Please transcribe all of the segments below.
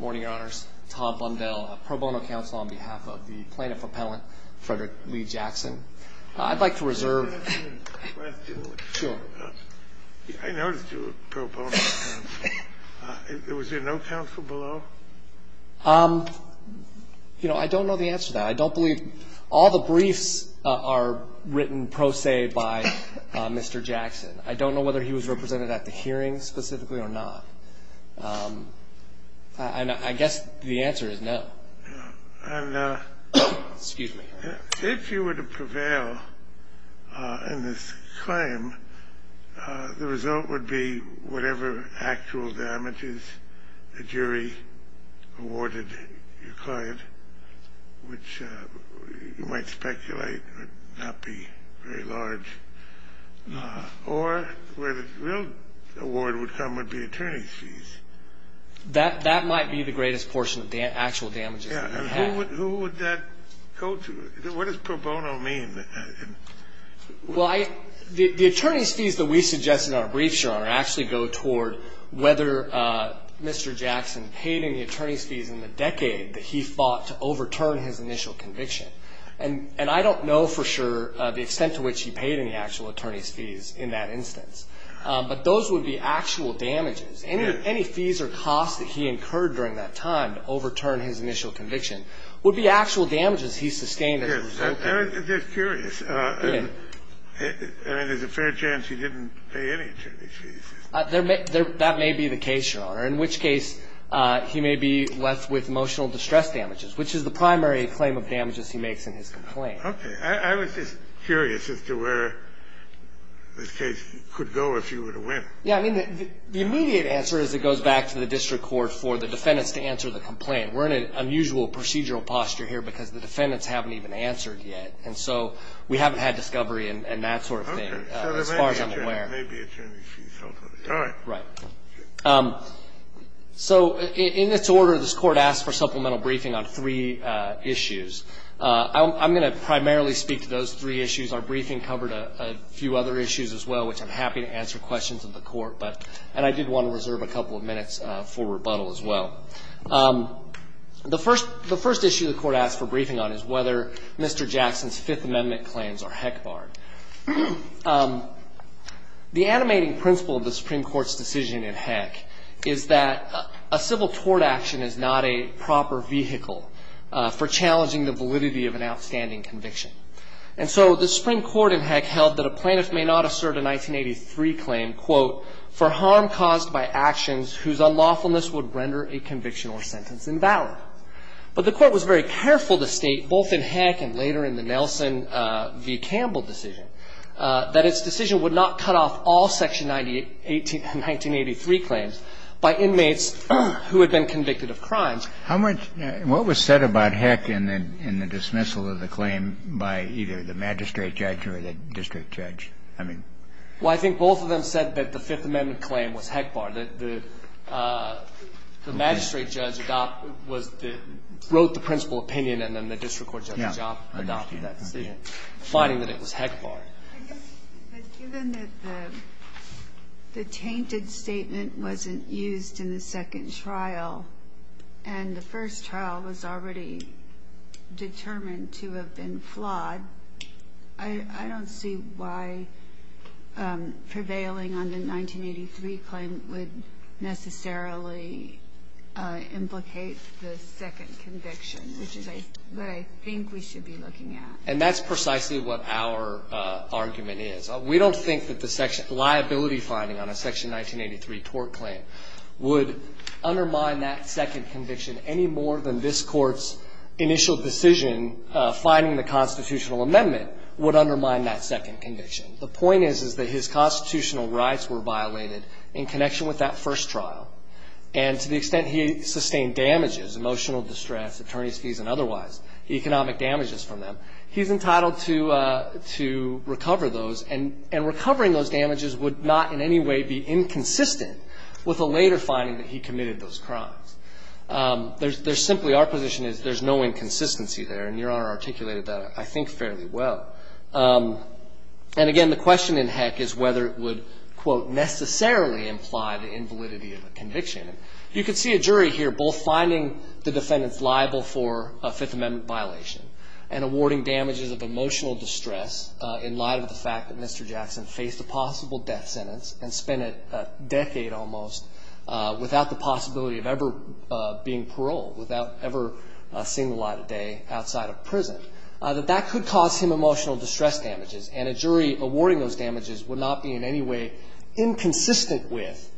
Morning, your honors. Tom Bundell, pro bono counsel on behalf of the plaintiff appellant, Frederick Lee Jackson. I'd like to reserve I noticed you were pro bono counsel. Was there no counsel below? You know, I don't know the answer to that. I don't believe all the briefs are written pro se by Mr. Jackson. I don't know whether he was represented at the hearing specifically or not. I guess the answer is no. And if you were to prevail in this claim, the result would be whatever actual damages the jury awarded your client, which you might speculate would not be very large, or where the real award would come would be attorney's fees. That might be the greatest portion of the actual damages. Who would that go to? What does pro bono mean? Well, the attorney's fees that we suggest in our briefs, your honor, actually go toward whether Mr. Jackson paid any attorney's fees in the decade that he fought to overturn his initial conviction. And I don't know for sure the extent to which he paid any actual attorney's fees in that instance. But those would be actual damages. Any fees or costs that he incurred during that time to overturn his initial conviction would be actual damages he sustained as a result of it. I'm just curious. I mean, there's a fair chance he didn't pay any attorney's fees. That may be the case, your honor, in which case he may be left with emotional distress damages, which is the primary claim of damages he makes in his complaint. Okay. I was just curious as to where this case could go if you were to win. Yeah. I mean, the immediate answer is it goes back to the district court for the defendants to answer the complaint. We're in an unusual procedural posture here because the defendants haven't even answered yet. And so we haven't had discovery and that sort of thing as far as I'm aware. It may be attorney's fees. All right. Right. So in its order, this Court asked for supplemental briefing on three issues. I'm going to primarily speak to those three issues. Our briefing covered a few other issues as well, which I'm happy to answer questions of the Court, but and I did want to reserve a couple of minutes for rebuttal as well. The first issue the Court asked for briefing on is whether Mr. Jackson's Fifth Amendment claims are heck barred. The animating principle of the Supreme Court's decision in Heck is that a civil tort action is not a proper vehicle for challenging the validity of an outstanding conviction. And so the Supreme Court in Heck held that a plaintiff may not assert a 1983 claim, quote, for harm caused by actions whose unlawfulness would render a conviction or sentence invalid. But the Court was very careful to state both in Heck and later in the Nelson v. Campbell decision, that its decision would not cut off all Section 1983 claims by inmates who had been convicted of crimes. How much – what was said about Heck in the dismissal of the claim by either the magistrate judge or the district judge? I mean – Well, I think both of them said that the Fifth Amendment claim was heck barred, that the magistrate judge wrote the principal opinion and then the district court had the job of adopting that decision, finding that it was heck barred. But given that the tainted statement wasn't used in the second trial and the first trial was already determined to have been flawed, I don't see why prevailing on the 1983 claim would necessarily implicate the second conviction, which is what I think we should be looking at. And that's precisely what our argument is. We don't think that the liability finding on a Section 1983 tort claim would undermine that second conviction any more than this Court's initial decision finding the constitutional amendment would undermine that second conviction. The point is, is that his constitutional rights were violated in connection with that first trial. And to the extent he sustained damages, emotional distress, attorney's fees and otherwise, economic damages from them, he's entitled to recover those. And recovering those damages would not in any way be inconsistent with the later finding that he committed those crimes. There's simply – our position is there's no inconsistency there. And Your Honor articulated that, I think, fairly well. And again, the question in heck is whether it would, quote, necessarily imply the invalidity of a conviction. You can see a jury here both finding the defendants liable for a Fifth Amendment violation and awarding damages of emotional distress in light of the fact that Mr. Jackson faced a possible death sentence and spent a decade almost without the possibility of ever being paroled, without ever seeing the light of day outside of prison, that that could cause him emotional distress damages. And a jury awarding those damages would not be in any way inconsistent with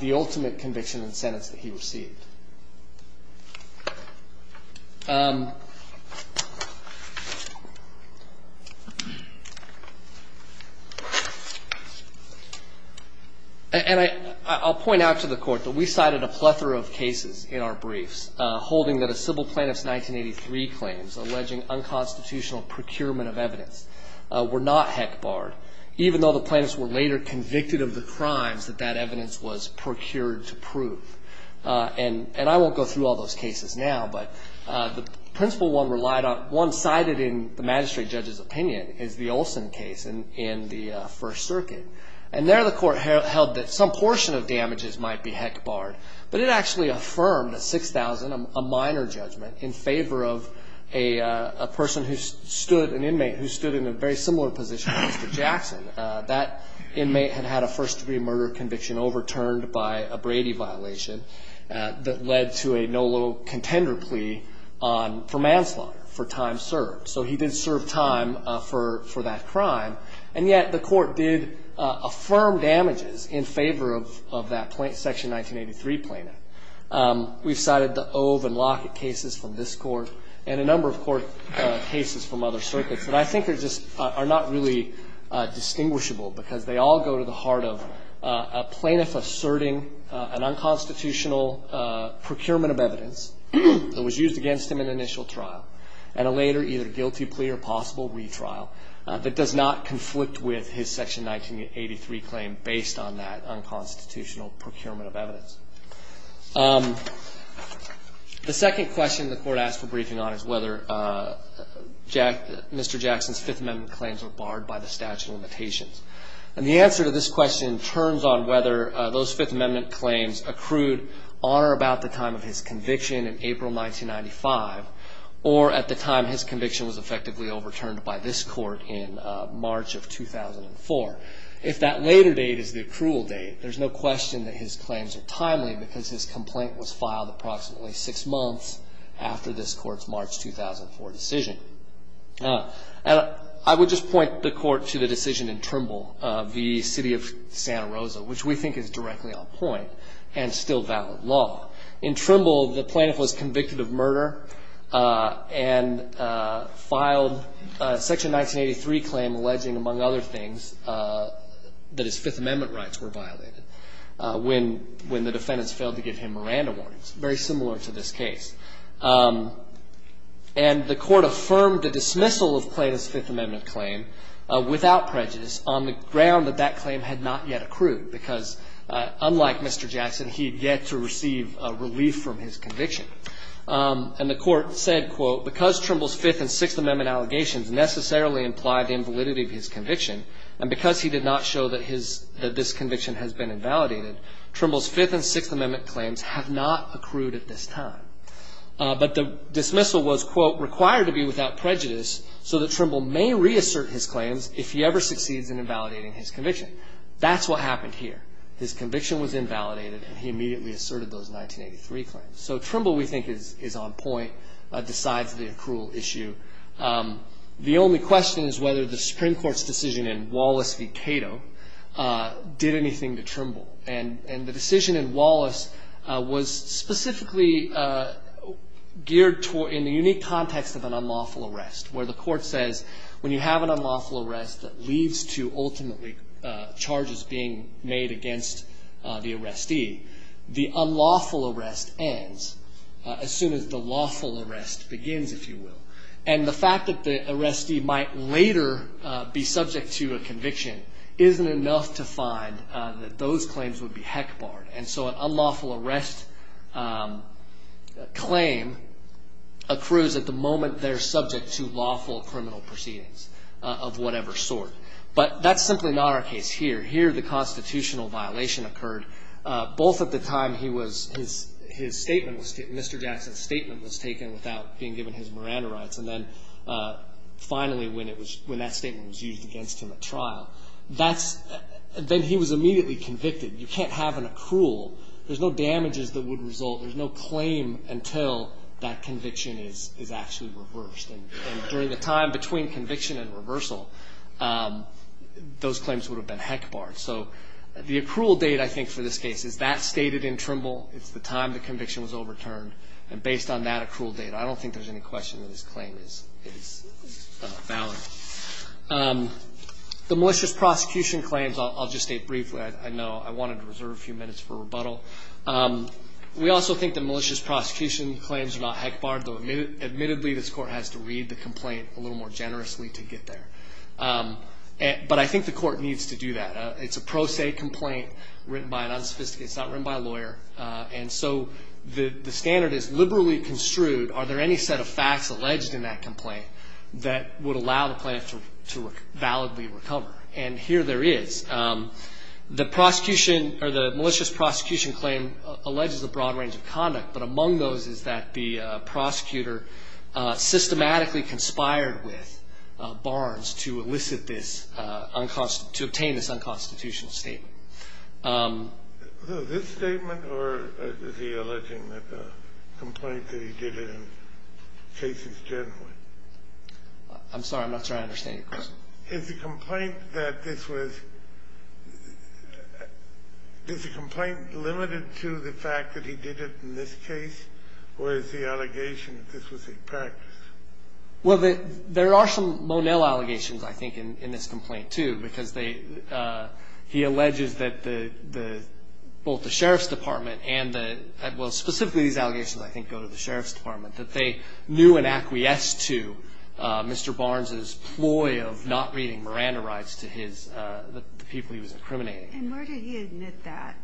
the ultimate conviction and sentence that he received. And I'll point out to the Court that we cited a plethora of cases in our briefs holding that a civil plaintiff's 1983 claims alleging unconstitutional procurement of evidence were not heck barred, even though the plaintiffs were later convicted of the crimes that that And I won't go through all those cases now, but the principal one relied on, one cited in the magistrate judge's opinion is the Olson case in the First Circuit. And there the Court held that some portion of damages might be heck barred, but it actually affirmed at 6,000 a minor judgment in favor of a person who stood, an inmate who stood in a very similar position to Mr. Jackson. That inmate had had a first-degree murder conviction overturned by a Brady violation that led to a no low contender plea for manslaughter for time served. So he did serve time for that crime. And yet the Court did affirm damages in favor of that Section 1983 plaintiff. We've cited the Ove and Lockett cases from this Court and a number of court cases from other go to the heart of a plaintiff asserting an unconstitutional procurement of evidence that was used against him in the initial trial and a later either guilty plea or possible retrial that does not conflict with his Section 1983 claim based on that unconstitutional procurement of evidence. The second question the Court asked for briefing on is whether Mr. Jackson's Fifth Amendment claims were barred by the statute of limitations. And the answer to this question turns on whether those Fifth Amendment claims accrued on or about the time of his conviction in April 1995 or at the time his conviction was effectively overturned by this Court in March of 2004. If that later date is the accrual date, there's no question that his claims are timely because his complaint was filed approximately six months after this Court's March 2004 decision. I would just point the Court to the decision in Trimble v. City of Santa Rosa, which we think is directly on point and still valid law. In Trimble, the plaintiff was convicted of murder and filed a Section 1983 claim alleging, among other things, that his Fifth Amendment rights were violated when the defendants failed to give him Miranda warnings, very similar to this case. And the Court affirmed the dismissal of Plaintiff's Fifth Amendment claim without prejudice on the ground that that claim had not yet accrued because, unlike Mr. Jackson, he had yet to receive relief from his conviction. And the Court said, quote, because Trimble's Fifth and Sixth Amendment allegations necessarily implied the invalidity of his conviction, and because he did not show that his — that this conviction has been invalidated, Trimble's Fifth and Sixth Amendment claims have not accrued at this time. But the dismissal was, quote, required to be without prejudice so that Trimble may reassert his claims if he ever succeeds in invalidating his conviction. That's what happened here. His conviction was invalidated, and he immediately asserted those 1983 claims. So Trimble, we think, is on point, decides the accrual issue. The only question is whether the Supreme Court's decision in Wallace v. Cato did anything to Trimble. And the decision in Wallace was specifically geared toward — in the unique context of an unlawful arrest, where the Court says when you have an unlawful arrest that leads to ultimately charges being made against the arrestee, the unlawful arrest ends as soon as the lawful arrest begins, if you will. And the fact that the arrestee might later be subject to a conviction isn't enough to find that those claims would be heck barred. And so an unlawful arrest claim accrues at the moment they're subject to lawful criminal proceedings of whatever sort. But that's simply not our case here. Here the constitutional violation occurred both at the time he was — his statement was — Mr. Jackson's statement was taken without being given his Miranda rights, and then finally when it was — when that statement was used against him at trial. That's — then he was immediately convicted. You can't have an accrual. There's no damages that would result. There's no claim until that conviction is actually reversed. And during the time between conviction and reversal, those claims would have been heck barred. So the accrual date, I think, for this case is that stated in Trimble. It's the time the conviction was overturned. And based on that accrual date, I don't think there's any question that his claim is valid. The malicious prosecution claims, I'll just state briefly. I know I wanted to reserve a few minutes for rebuttal. We also think the malicious prosecution claims are not heck barred, though admittedly this Court has to read the complaint a little more generously to get there. But I think the Court needs to do that. It's a pro se complaint written by an unsophisticated — it's not written by a lawyer. And so the standard is liberally construed. Are there any set of facts alleged in that complaint that would allow the plaintiff to validly recover? And here there is. The prosecution or the malicious prosecution claim alleges a broad range of conduct, but among those is that the prosecutor systematically conspired with Barnes to elicit this — to obtain this unconstitutional statement. So this statement, or is he alleging that the complaint that he did it in cases generally? I'm sorry. I'm not sure I understand your question. Is the complaint that this was — is the complaint limited to the fact that he did it in this case, or is the allegation that this was a practice? Well, there are some Monell allegations, I think, in this complaint, too, because they — he alleges that the — both the sheriff's department and the — well, specifically these allegations, I think, go to the sheriff's department, that they knew and acquiesced to Mr. Barnes's ploy of not reading Miranda rights to his — the people he was incriminating. And where did he admit that?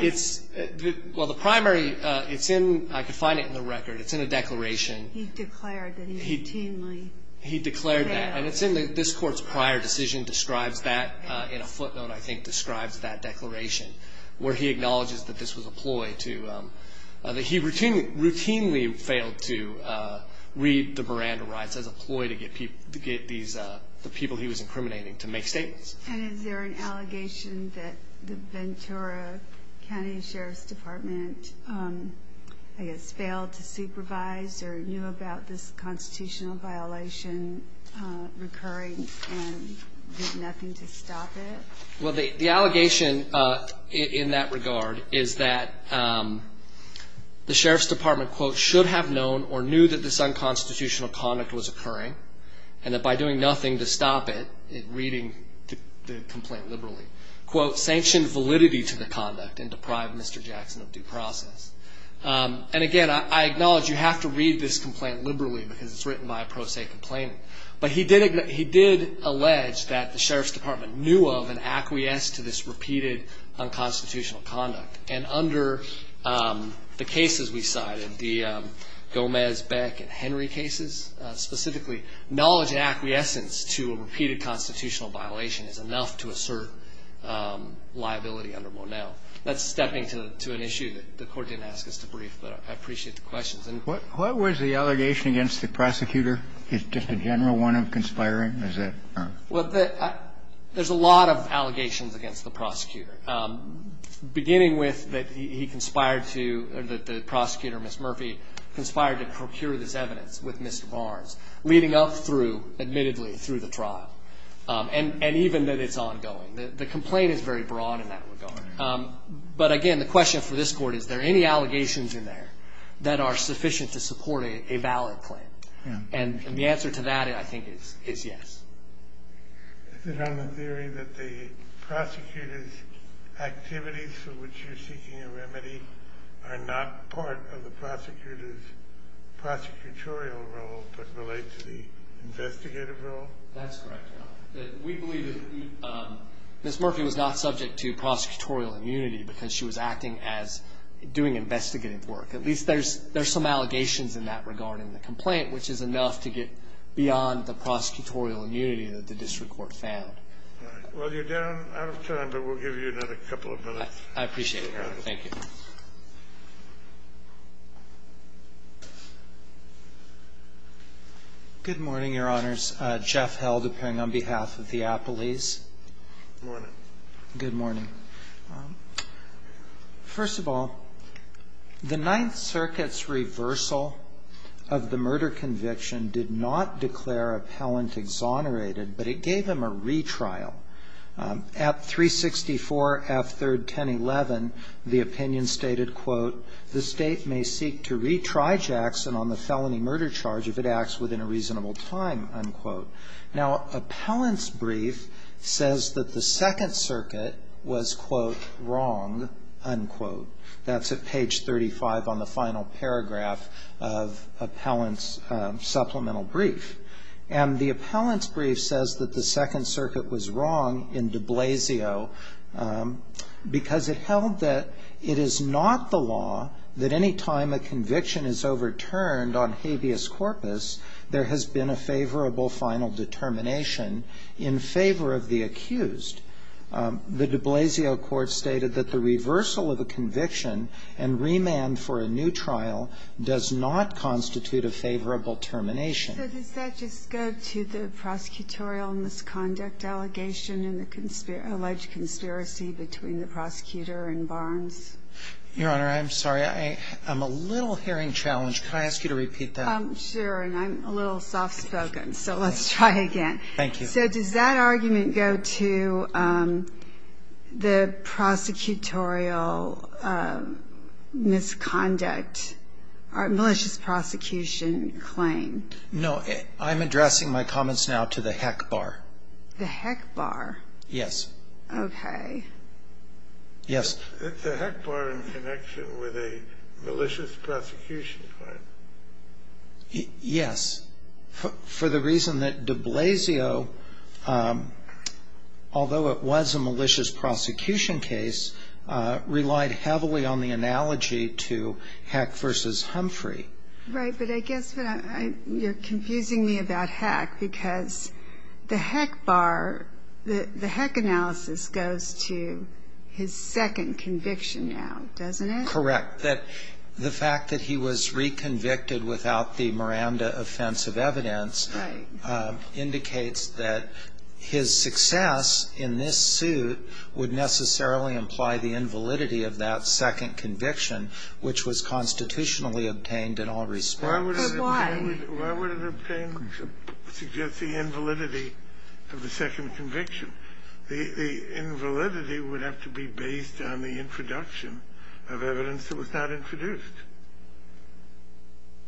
It's — well, the primary — it's in — I can find it in the record. It's in a declaration. He declared that he routinely — He declared that. And it's in the — this court's prior decision describes that in a footnote, I think, describes that declaration where he acknowledges that this was a ploy to — that he routinely failed to read the Miranda rights as a ploy to get people — to get these — the people he was incriminating to make statements. And is there an allegation that the Ventura County Sheriff's Department, I guess, failed to supervise or knew about this constitutional violation recurring and did nothing to stop it? Well, the allegation in that regard is that the sheriff's department, quote, should have known or knew that this unconstitutional conduct was occurring and that by doing nothing to stop it, reading the complaint liberally, quote, sanctioned validity to the conduct and deprived Mr. Jackson of due process. And, again, I acknowledge you have to read this complaint liberally because it's written by a pro se complainant. But he did — he did allege that the sheriff's department knew of and acquiesced to this repeated unconstitutional conduct. And under the cases we cited, the Gomez, Beck, and Henry cases specifically, knowledge and acquiescence to a repeated constitutional violation is enough to assert liability under Monell. That's stepping to an issue that the Court didn't ask us to brief, but I appreciate the questions. And what was the allegation against the prosecutor? Is it just a general one of conspiring? Is it not? Well, there's a lot of allegations against the prosecutor, beginning with that he conspired to — or that the prosecutor, Ms. Murphy, conspired to procure this evidence with Mr. Barnes, leading up through, admittedly, through the trial, and even that it's ongoing. The complaint is very broad in that regard. But, again, the question for this Court, is there any allegations in there that are sufficient to support a valid claim? And the answer to that, I think, is yes. Is it on the theory that the prosecutor's activities for which you're seeking a remedy are not part of the prosecutor's prosecutorial role but relate to the investigative role? That's correct, Your Honor. We believe that Ms. Murphy was not subject to prosecutorial immunity because she was acting as doing investigative work. At least there's some allegations in that regarding the complaint, which is enough to get beyond the prosecutorial immunity that the district court found. All right. Well, you're down out of time, but we'll give you another couple of minutes. I appreciate it, Your Honor. Thank you. Good morning, Your Honors. Jeff Held, appearing on behalf of the Appellees. Good morning. Good morning. First of all, the Ninth Circuit's reversal of the murder conviction did not declare Appellant exonerated, but it gave him a retrial. At 364 F. 3rd, 1011, the opinion stated, quote, the State may seek to retry Jackson on the felony murder charge if it acts within a reasonable time, unquote. Now, Appellant's brief says that the Second Circuit was, quote, wrong, unquote. That's at page 35 on the final paragraph of Appellant's supplemental brief. And the Appellant's brief says that the Second Circuit was wrong in de Blasio because it held that it is not the law that any time a conviction is overturned on habeas corpus, there has been a favorable final determination in favor of the accused. The de Blasio court stated that the reversal of a conviction and remand for a new trial does not constitute a favorable termination. So does that just go to the prosecutorial misconduct allegation and the alleged conspiracy between the prosecutor and Barnes? Your Honor, I'm sorry. I'm a little hearing challenged. Can I ask you to repeat that? Sure. And I'm a little soft-spoken, so let's try again. Thank you. So does that argument go to the prosecutorial misconduct, malicious prosecution claim? No. I'm addressing my comments now to the HEC bar. The HEC bar? Yes. Okay. Yes. The HEC bar in connection with a malicious prosecution claim? Yes. For the reason that de Blasio, although it was a malicious prosecution case, relied heavily on the analogy to HEC v. Humphrey. Right. But I guess you're confusing me about HEC because the HEC bar, the HEC analysis goes to his second conviction now, doesn't it? Correct. The fact that he was reconvicted without the Miranda offensive evidence indicates that his success in this suit would necessarily imply the invalidity of that second conviction, which was constitutionally obtained in all respects. But why? Why would it suggest the invalidity of the second conviction? The invalidity would have to be based on the introduction of evidence that was not introduced.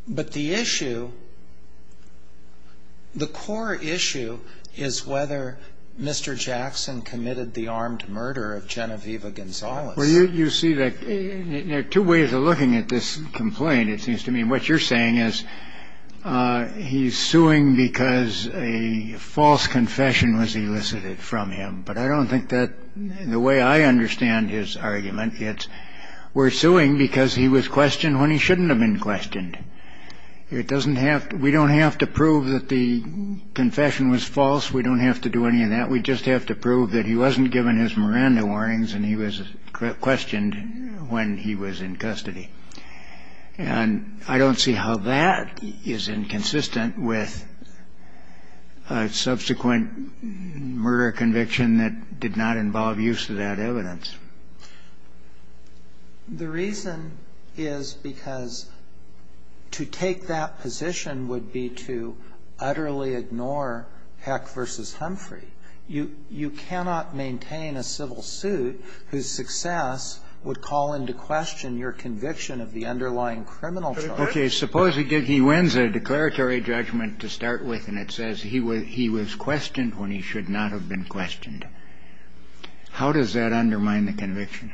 But the issue, the core issue is whether Mr. Jackson committed the armed murder of Genevieve Gonzalez. Well, you see, there are two ways of looking at this complaint, it seems to me. What you're saying is he's suing because a false confession was elicited from him. But I don't think that the way I understand his argument, it's we're suing because he was questioned when he shouldn't have been questioned. It doesn't have to we don't have to prove that the confession was false. We don't have to do any of that. We just have to prove that he wasn't given his Miranda warnings and he was questioned when he was in custody. And I don't see how that is inconsistent with a subsequent murder conviction that did not involve use of that evidence. The reason is because to take that position would be to utterly ignore Heck v. Humphrey. You cannot maintain a civil suit whose success would call into question your conviction of the underlying criminal charge. Okay. Suppose he wins a declaratory judgment to start with and it says he was questioned when he should not have been questioned. How does that undermine the conviction?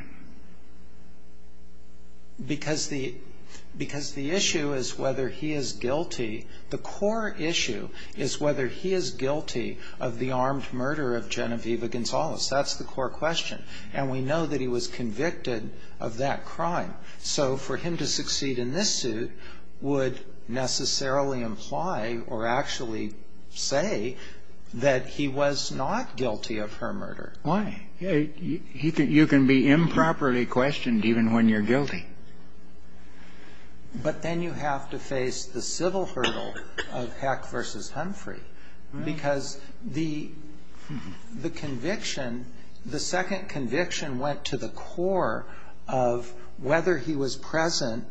Because the issue is whether he is guilty. The core issue is whether he is guilty of the armed murder of Genevieve Gonzalez. That's the core question. And we know that he was convicted of that crime. So for him to succeed in this suit would necessarily imply or actually say that he was not guilty of her murder. Why? You can be improperly questioned even when you're guilty. But then you have to face the civil hurdle of Heck v. Humphrey because the conviction, the second conviction, went to the core of whether he was present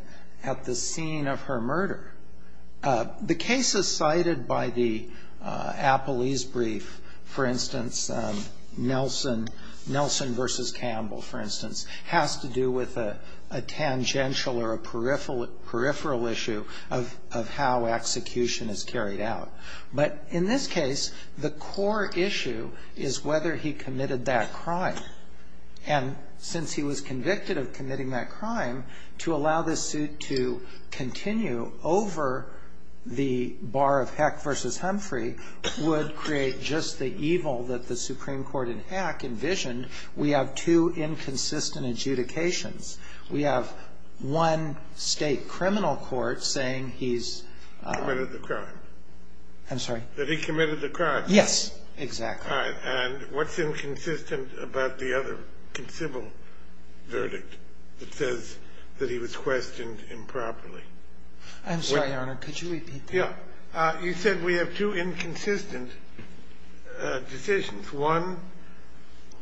at the scene of her murder. The cases cited by the Appleese brief, for instance, Nelson v. Campbell, for instance, has to do with a tangential or a peripheral issue of how execution is carried out. But in this case, the core issue is whether he committed that crime. And since he was convicted of committing that crime, to allow this suit to continue over the bar of Heck v. Humphrey would create just the evil that the Supreme Court in Heck envisioned. We have two inconsistent adjudications. We have one state criminal court saying he's ---- Committed the crime. I'm sorry. That he committed the crime. Yes, exactly. All right. And what's inconsistent about the other civil verdict that says that he was questioned improperly? I'm sorry, Your Honor. Could you repeat that? Yeah. You said we have two inconsistent decisions. One,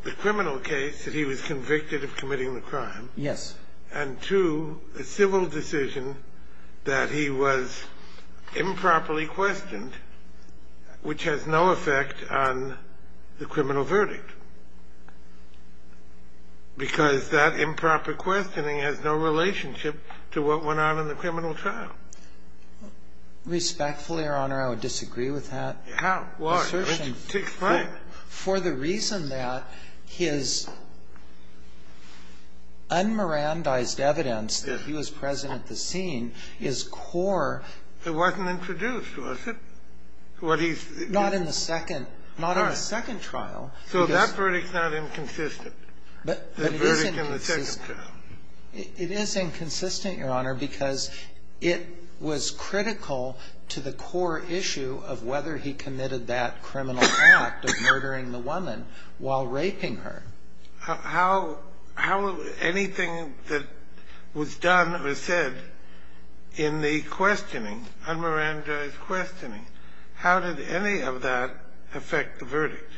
the criminal case that he was convicted of committing the crime. Yes. And, two, the civil decision that he was improperly questioned, which has no effect on the criminal verdict. Because that improper questioning has no relationship to what went on in the criminal trial. Respectfully, Your Honor, I would disagree with that assertion. How? Why? That assertion for the reason that his un-Mirandized evidence that he was present at the scene is core. It wasn't introduced, was it? What he's ---- Not in the second. All right. Not in the second trial. So that verdict's not inconsistent, the verdict in the second trial. It is inconsistent, Your Honor, because it was critical to the core issue of whether he committed that criminal act of murdering the woman while raping her. How anything that was done or said in the questioning, un-Mirandized questioning, how did any of that affect the verdict?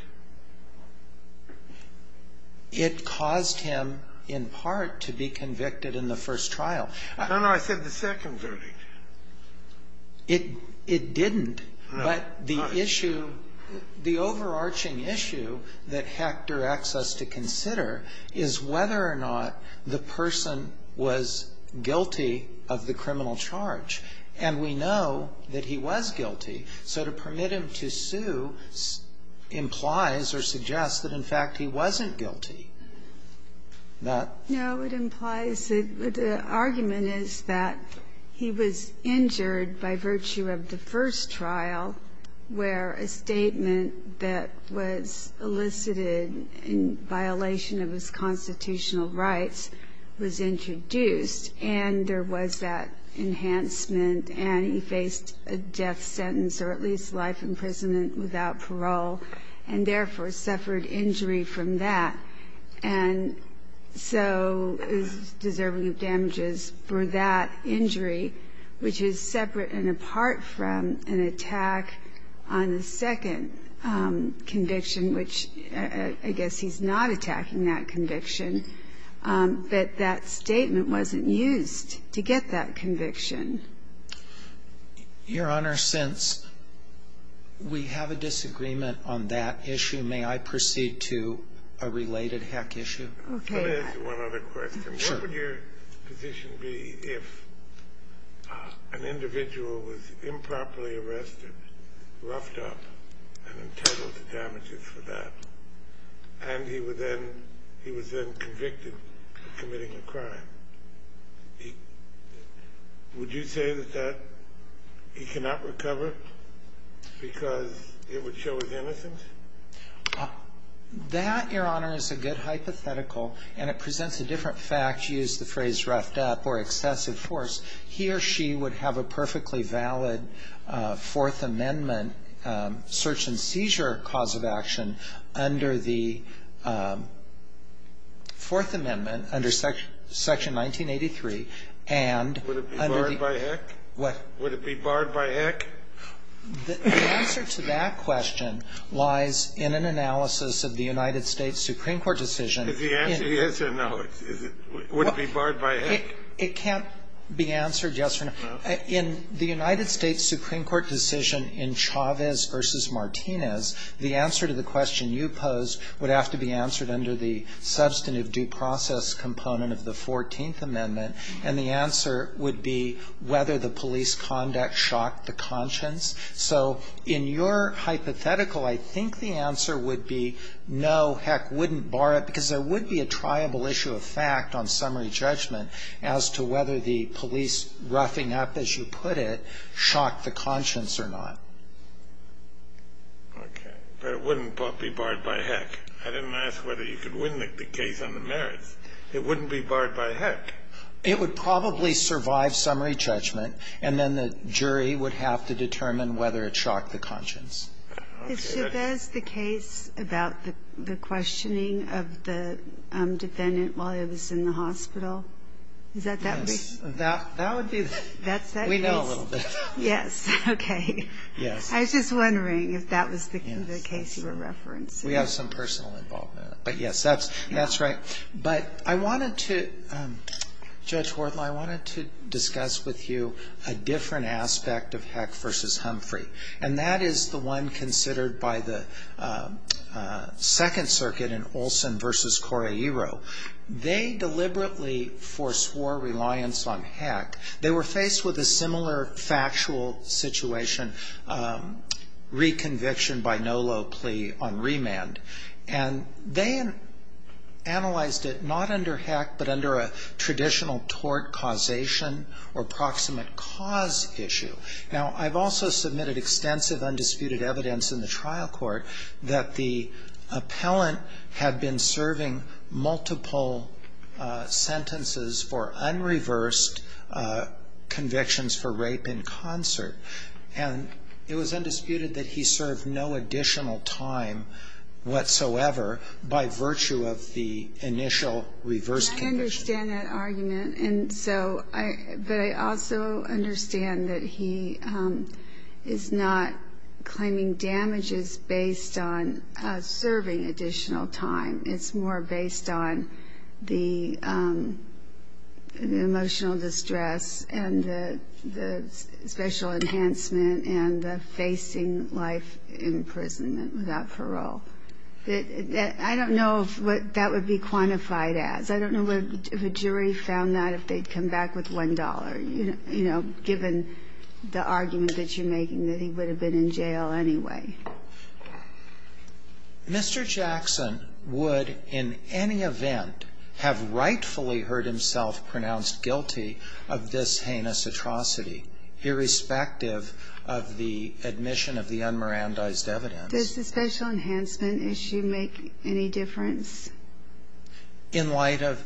It caused him, in part, to be convicted in the first trial. No, no. I said the second verdict. It didn't. No. But the issue, the overarching issue that Hector asks us to consider is whether or not the person was guilty of the criminal charge. And we know that he was guilty. So to permit him to sue implies or suggests that, in fact, he wasn't guilty. That ---- No, it implies that the argument is that he was injured by virtue of the first trial, where a statement that was elicited in violation of his constitutional rights was introduced, and there was that enhancement, and he faced a death sentence or at least life imprisonment without parole, and therefore suffered injury from that, and so is deserving of damages for that injury, which is separate and apart from an attack on the second conviction, which I guess he's not attacking that conviction. But that statement wasn't used to get that conviction. Your Honor, since we have a disagreement on that issue, may I proceed to a related heck issue? Okay. Let me ask you one other question. Sure. What would your position be if an individual was improperly arrested, roughed up, and entitled to damages for that? And he was then convicted of committing a crime. Would you say that he cannot recover because it would show his innocence? That, Your Honor, is a good hypothetical, and it presents a different fact, use the phrase roughed up or excessive force. He or she would have a perfectly valid Fourth Amendment search and seizure cause of action under the Fourth Amendment, under Section 1983, and under the Would it be barred by heck? What? Would it be barred by heck? The answer to that question lies in an analysis of the United States Supreme Court decision. Is the answer yes or no? Would it be barred by heck? It can't be answered yes or no. No? In the United States Supreme Court decision in Chavez v. Martinez, the answer to the question you posed would have to be answered under the substantive due process component of the Fourteenth Amendment, and the answer would be whether the police conduct shocked the conscience. So in your hypothetical, I think the answer would be no, heck, wouldn't bar it, because there would be a triable issue of fact on summary judgment as to whether the police roughing up, as you put it, shocked the conscience or not. Okay. But it wouldn't be barred by heck. I didn't ask whether you could win the case on the merits. It wouldn't be barred by heck. It would probably survive summary judgment, and then the jury would have to determine whether it shocked the conscience. Okay. Is Chavez the case about the questioning of the defendant while he was in the hospital? Is that that brief? Yes. That would be the case. We know a little bit. Yes. Okay. Yes. I was just wondering if that was the case you were referencing. We have some personal involvement. But, yes, that's right. But I wanted to, Judge Worthl, I wanted to discuss with you a different aspect of heck v. Humphrey, and that is the one considered by the Second Circuit in Olson v. Correiro. They deliberately foreswore reliance on heck. They were faced with a similar factual situation, reconviction by no low plea on remand. And they analyzed it not under heck, but under a traditional tort causation or proximate cause issue. Now, I've also submitted extensive undisputed evidence in the trial court that the defendant served multiple sentences for unreversed convictions for rape in concert. And it was undisputed that he served no additional time whatsoever by virtue of the initial reverse conviction. I understand that argument. But I also understand that he is not claiming damages based on serving additional time. It's more based on the emotional distress and the special enhancement and the facing life imprisonment without parole. I don't know what that would be quantified as. I don't know if a jury found that if they'd come back with $1, you know, given the argument that you're making that he would have been in jail anyway. Mr. Jackson would in any event have rightfully heard himself pronounced guilty of this heinous atrocity, irrespective of the admission of the unmerandized evidence. Does the special enhancement issue make any difference? In light of?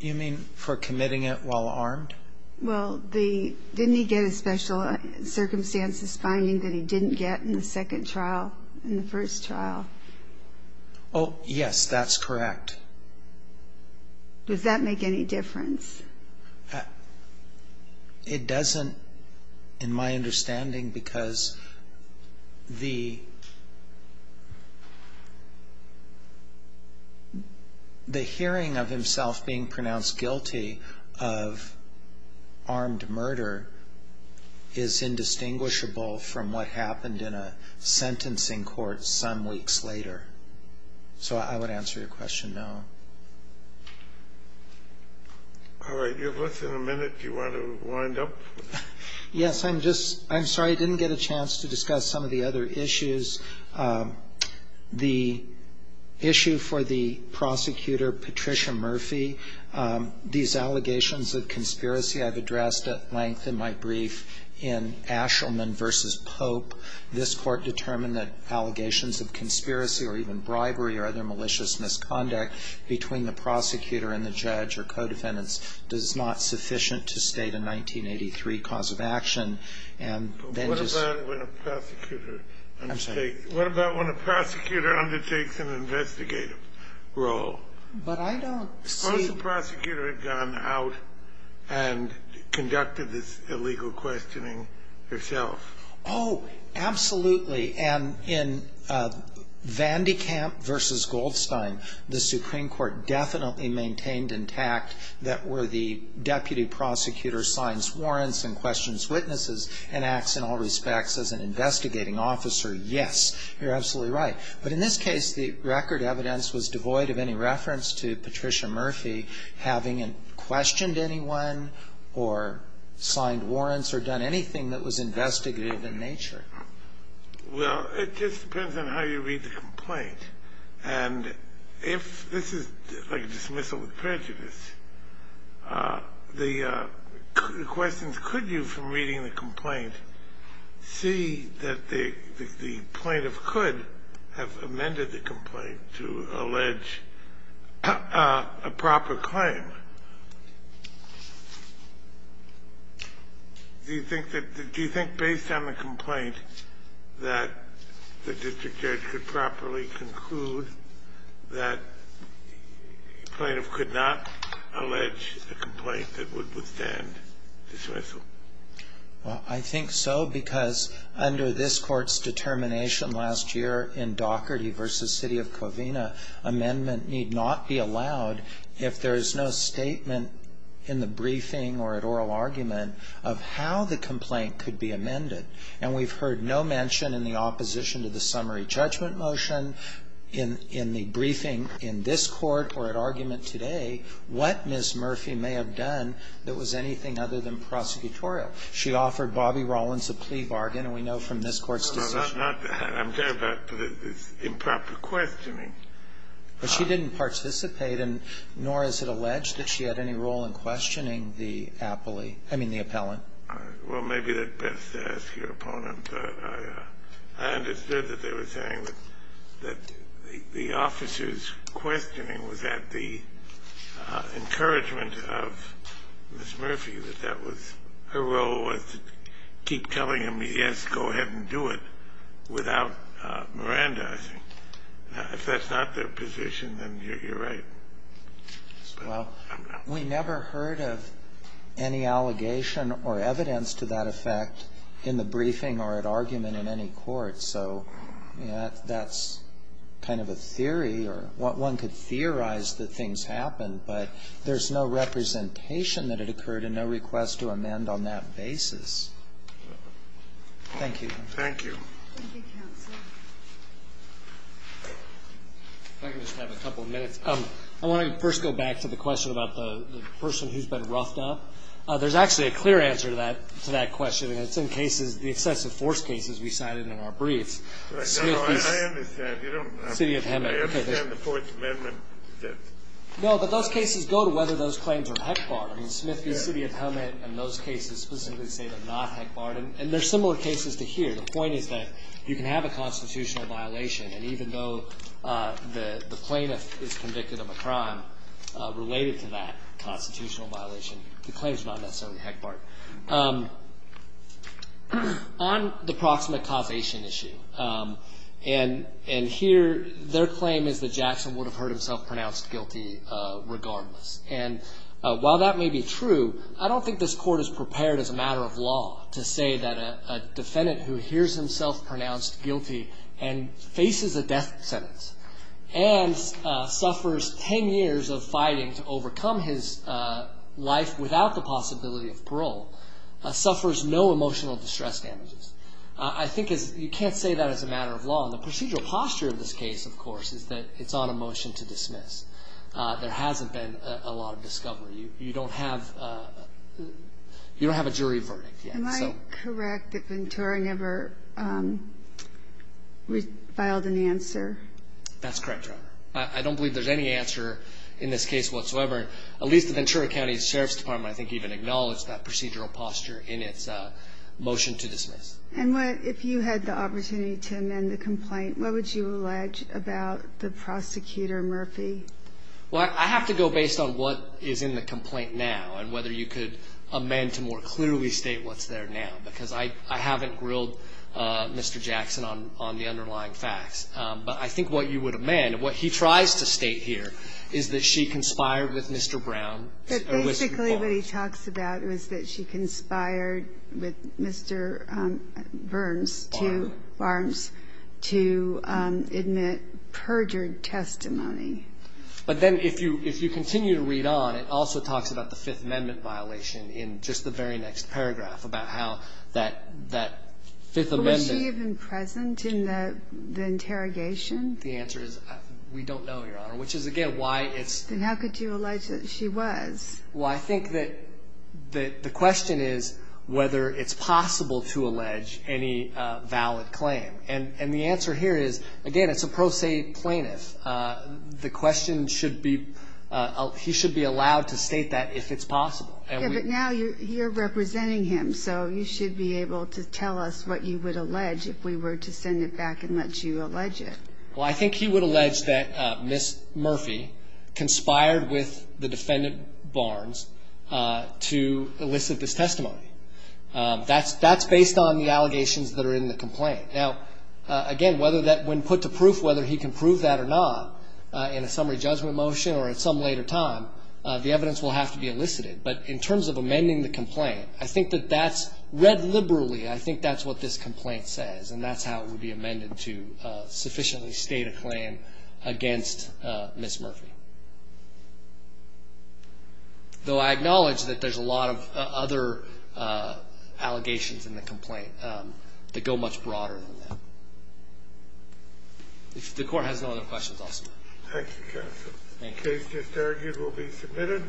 You mean for committing it while armed? Well, didn't he get a special circumstances finding that he didn't get in the second trial, in the first trial? Oh, yes, that's correct. Does that make any difference? It doesn't in my understanding because the hearing of himself being pronounced guilty of armed murder is indistinguishable from what happened in a sentencing court some weeks later. So I would answer your question no. All right, you have less than a minute if you want to wind up. Yes, I'm sorry, I didn't get a chance to discuss some of the other issues. The issue for the prosecutor, Patricia Murphy, these allegations of conspiracy I've addressed at length in my brief in Ashelman v. Pope. This Court determined that allegations of conspiracy or even bribery or other malicious misconduct between the prosecutor and the judge or co-defendants is not sufficient to state a 1983 cause of action. What about when a prosecutor undertakes an investigative role? Suppose the prosecutor had gone out and conducted this illegal questioning herself? Oh, absolutely. And in Vandekamp v. Goldstein, the Supreme Court definitely maintained intact that where the deputy prosecutor signs warrants and questions witnesses and acts in all respects as an investigating officer, yes, you're absolutely right. But in this case, the record evidence was devoid of any reference to Patricia Murphy having questioned anyone or signed warrants or done anything that was investigative in nature. And if this is like a dismissal of prejudice, the question is, could you from reading the complaint see that the plaintiff could have amended the complaint to allege a proper claim? Do you think that the do you think based on the complaint that the district judge could properly conclude that the plaintiff could not allege a complaint that would withstand dismissal? Well, I think so, because under this Court's determination last year in Daugherty v. City of Covina, amendment need not be allowed if there is no statement in the briefing or at oral argument of how the complaint could be amended. And we've heard no mention in the opposition to the summary judgment motion in the briefing in this Court or at argument today what Ms. Murphy may have done that was anything other than prosecutorial. She offered Bobby Rollins a plea bargain, and we know from this Court's decision No, not that. I'm talking about improper questioning. But she didn't participate, and nor is it alleged that she had any role in questioning the appellee, I mean, the appellant. Well, maybe that's best to ask your opponent. I understood that they were saying that the officer's questioning was at the encouragement of Ms. Murphy, that that was her role was to keep telling him, yes, go ahead and do it, without Miranda, I think. If that's not their position, then you're right. Well, we never heard of any allegation or evidence to that effect in the briefing or at argument in any court, so that's kind of a theory, or one could theorize that things happened, but there's no representation that it occurred and no request to amend on that basis. Thank you. Thank you. Thank you, counsel. If I could just have a couple of minutes. I want to first go back to the question about the person who's been roughed up. There's actually a clear answer to that question, and it's in cases, the excessive force cases we cited in our brief. I understand. I understand the court's amendment. No, but those cases go to whether those claims are HECBAR. I mean, Smith v. City of Hemet and those cases specifically say they're not HECBAR, and there are similar cases to here. The point is that you can have a constitutional violation, and even though the plaintiff is convicted of a crime related to that constitutional violation, the claim is not necessarily HECBAR. On the proximate causation issue, and here their claim is that Jackson would have heard himself pronounced guilty regardless, and while that may be true, I don't think this court is prepared as a matter of law to say that a defendant who hears himself pronounced guilty and faces a death sentence and suffers 10 years of fighting to overcome his life without the possibility of parole suffers no emotional distress damages. I think you can't say that as a matter of law, and the procedural posture of this case, of course, is that it's on a motion to dismiss. There hasn't been a lot of discovery. You don't have a jury verdict yet. Am I correct that Ventura never filed an answer? That's correct, Your Honor. I don't believe there's any answer in this case whatsoever. At least the Ventura County Sheriff's Department, I think, even acknowledged that procedural posture in its motion to dismiss. And if you had the opportunity to amend the complaint, what would you allege about the prosecutor Murphy? Well, I have to go based on what is in the complaint now and whether you could amend to more clearly state what's there now, because I haven't grilled Mr. Jackson on the underlying facts. But I think what you would amend, and what he tries to state here, is that she conspired with Mr. Brown. But basically what he talks about is that she conspired with Mr. Burns to Barnes to admit perjured testimony. But then if you continue to read on, it also talks about the Fifth Amendment violation in just the very next paragraph about how that Fifth Amendment ---- Was she even present in the interrogation? The answer is we don't know, Your Honor, which is, again, why it's ---- Then how could you allege that she was? Well, I think that the question is whether it's possible to allege any valid claim. And the answer here is, again, it's a pro se plaintiff. The question should be he should be allowed to state that if it's possible. But now you're here representing him, so you should be able to tell us what you would allege if we were to send it back and let you allege it. Well, I think he would allege that Ms. Murphy conspired with the defendant Barnes to elicit this testimony. That's based on the allegations that are in the complaint. Now, again, whether that ---- when put to proof, whether he can prove that or not in a summary judgment motion or at some later time, the evidence will have to be elicited. But in terms of amending the complaint, I think that that's read liberally. I think that's what this complaint says. And that's how it would be amended to sufficiently state a claim against Ms. Murphy. Though I acknowledge that there's a lot of other allegations in the complaint that go much broader than that. If the court has no other questions, I'll stop. Thank you, counsel. Thank you. The case just argued will be submitted.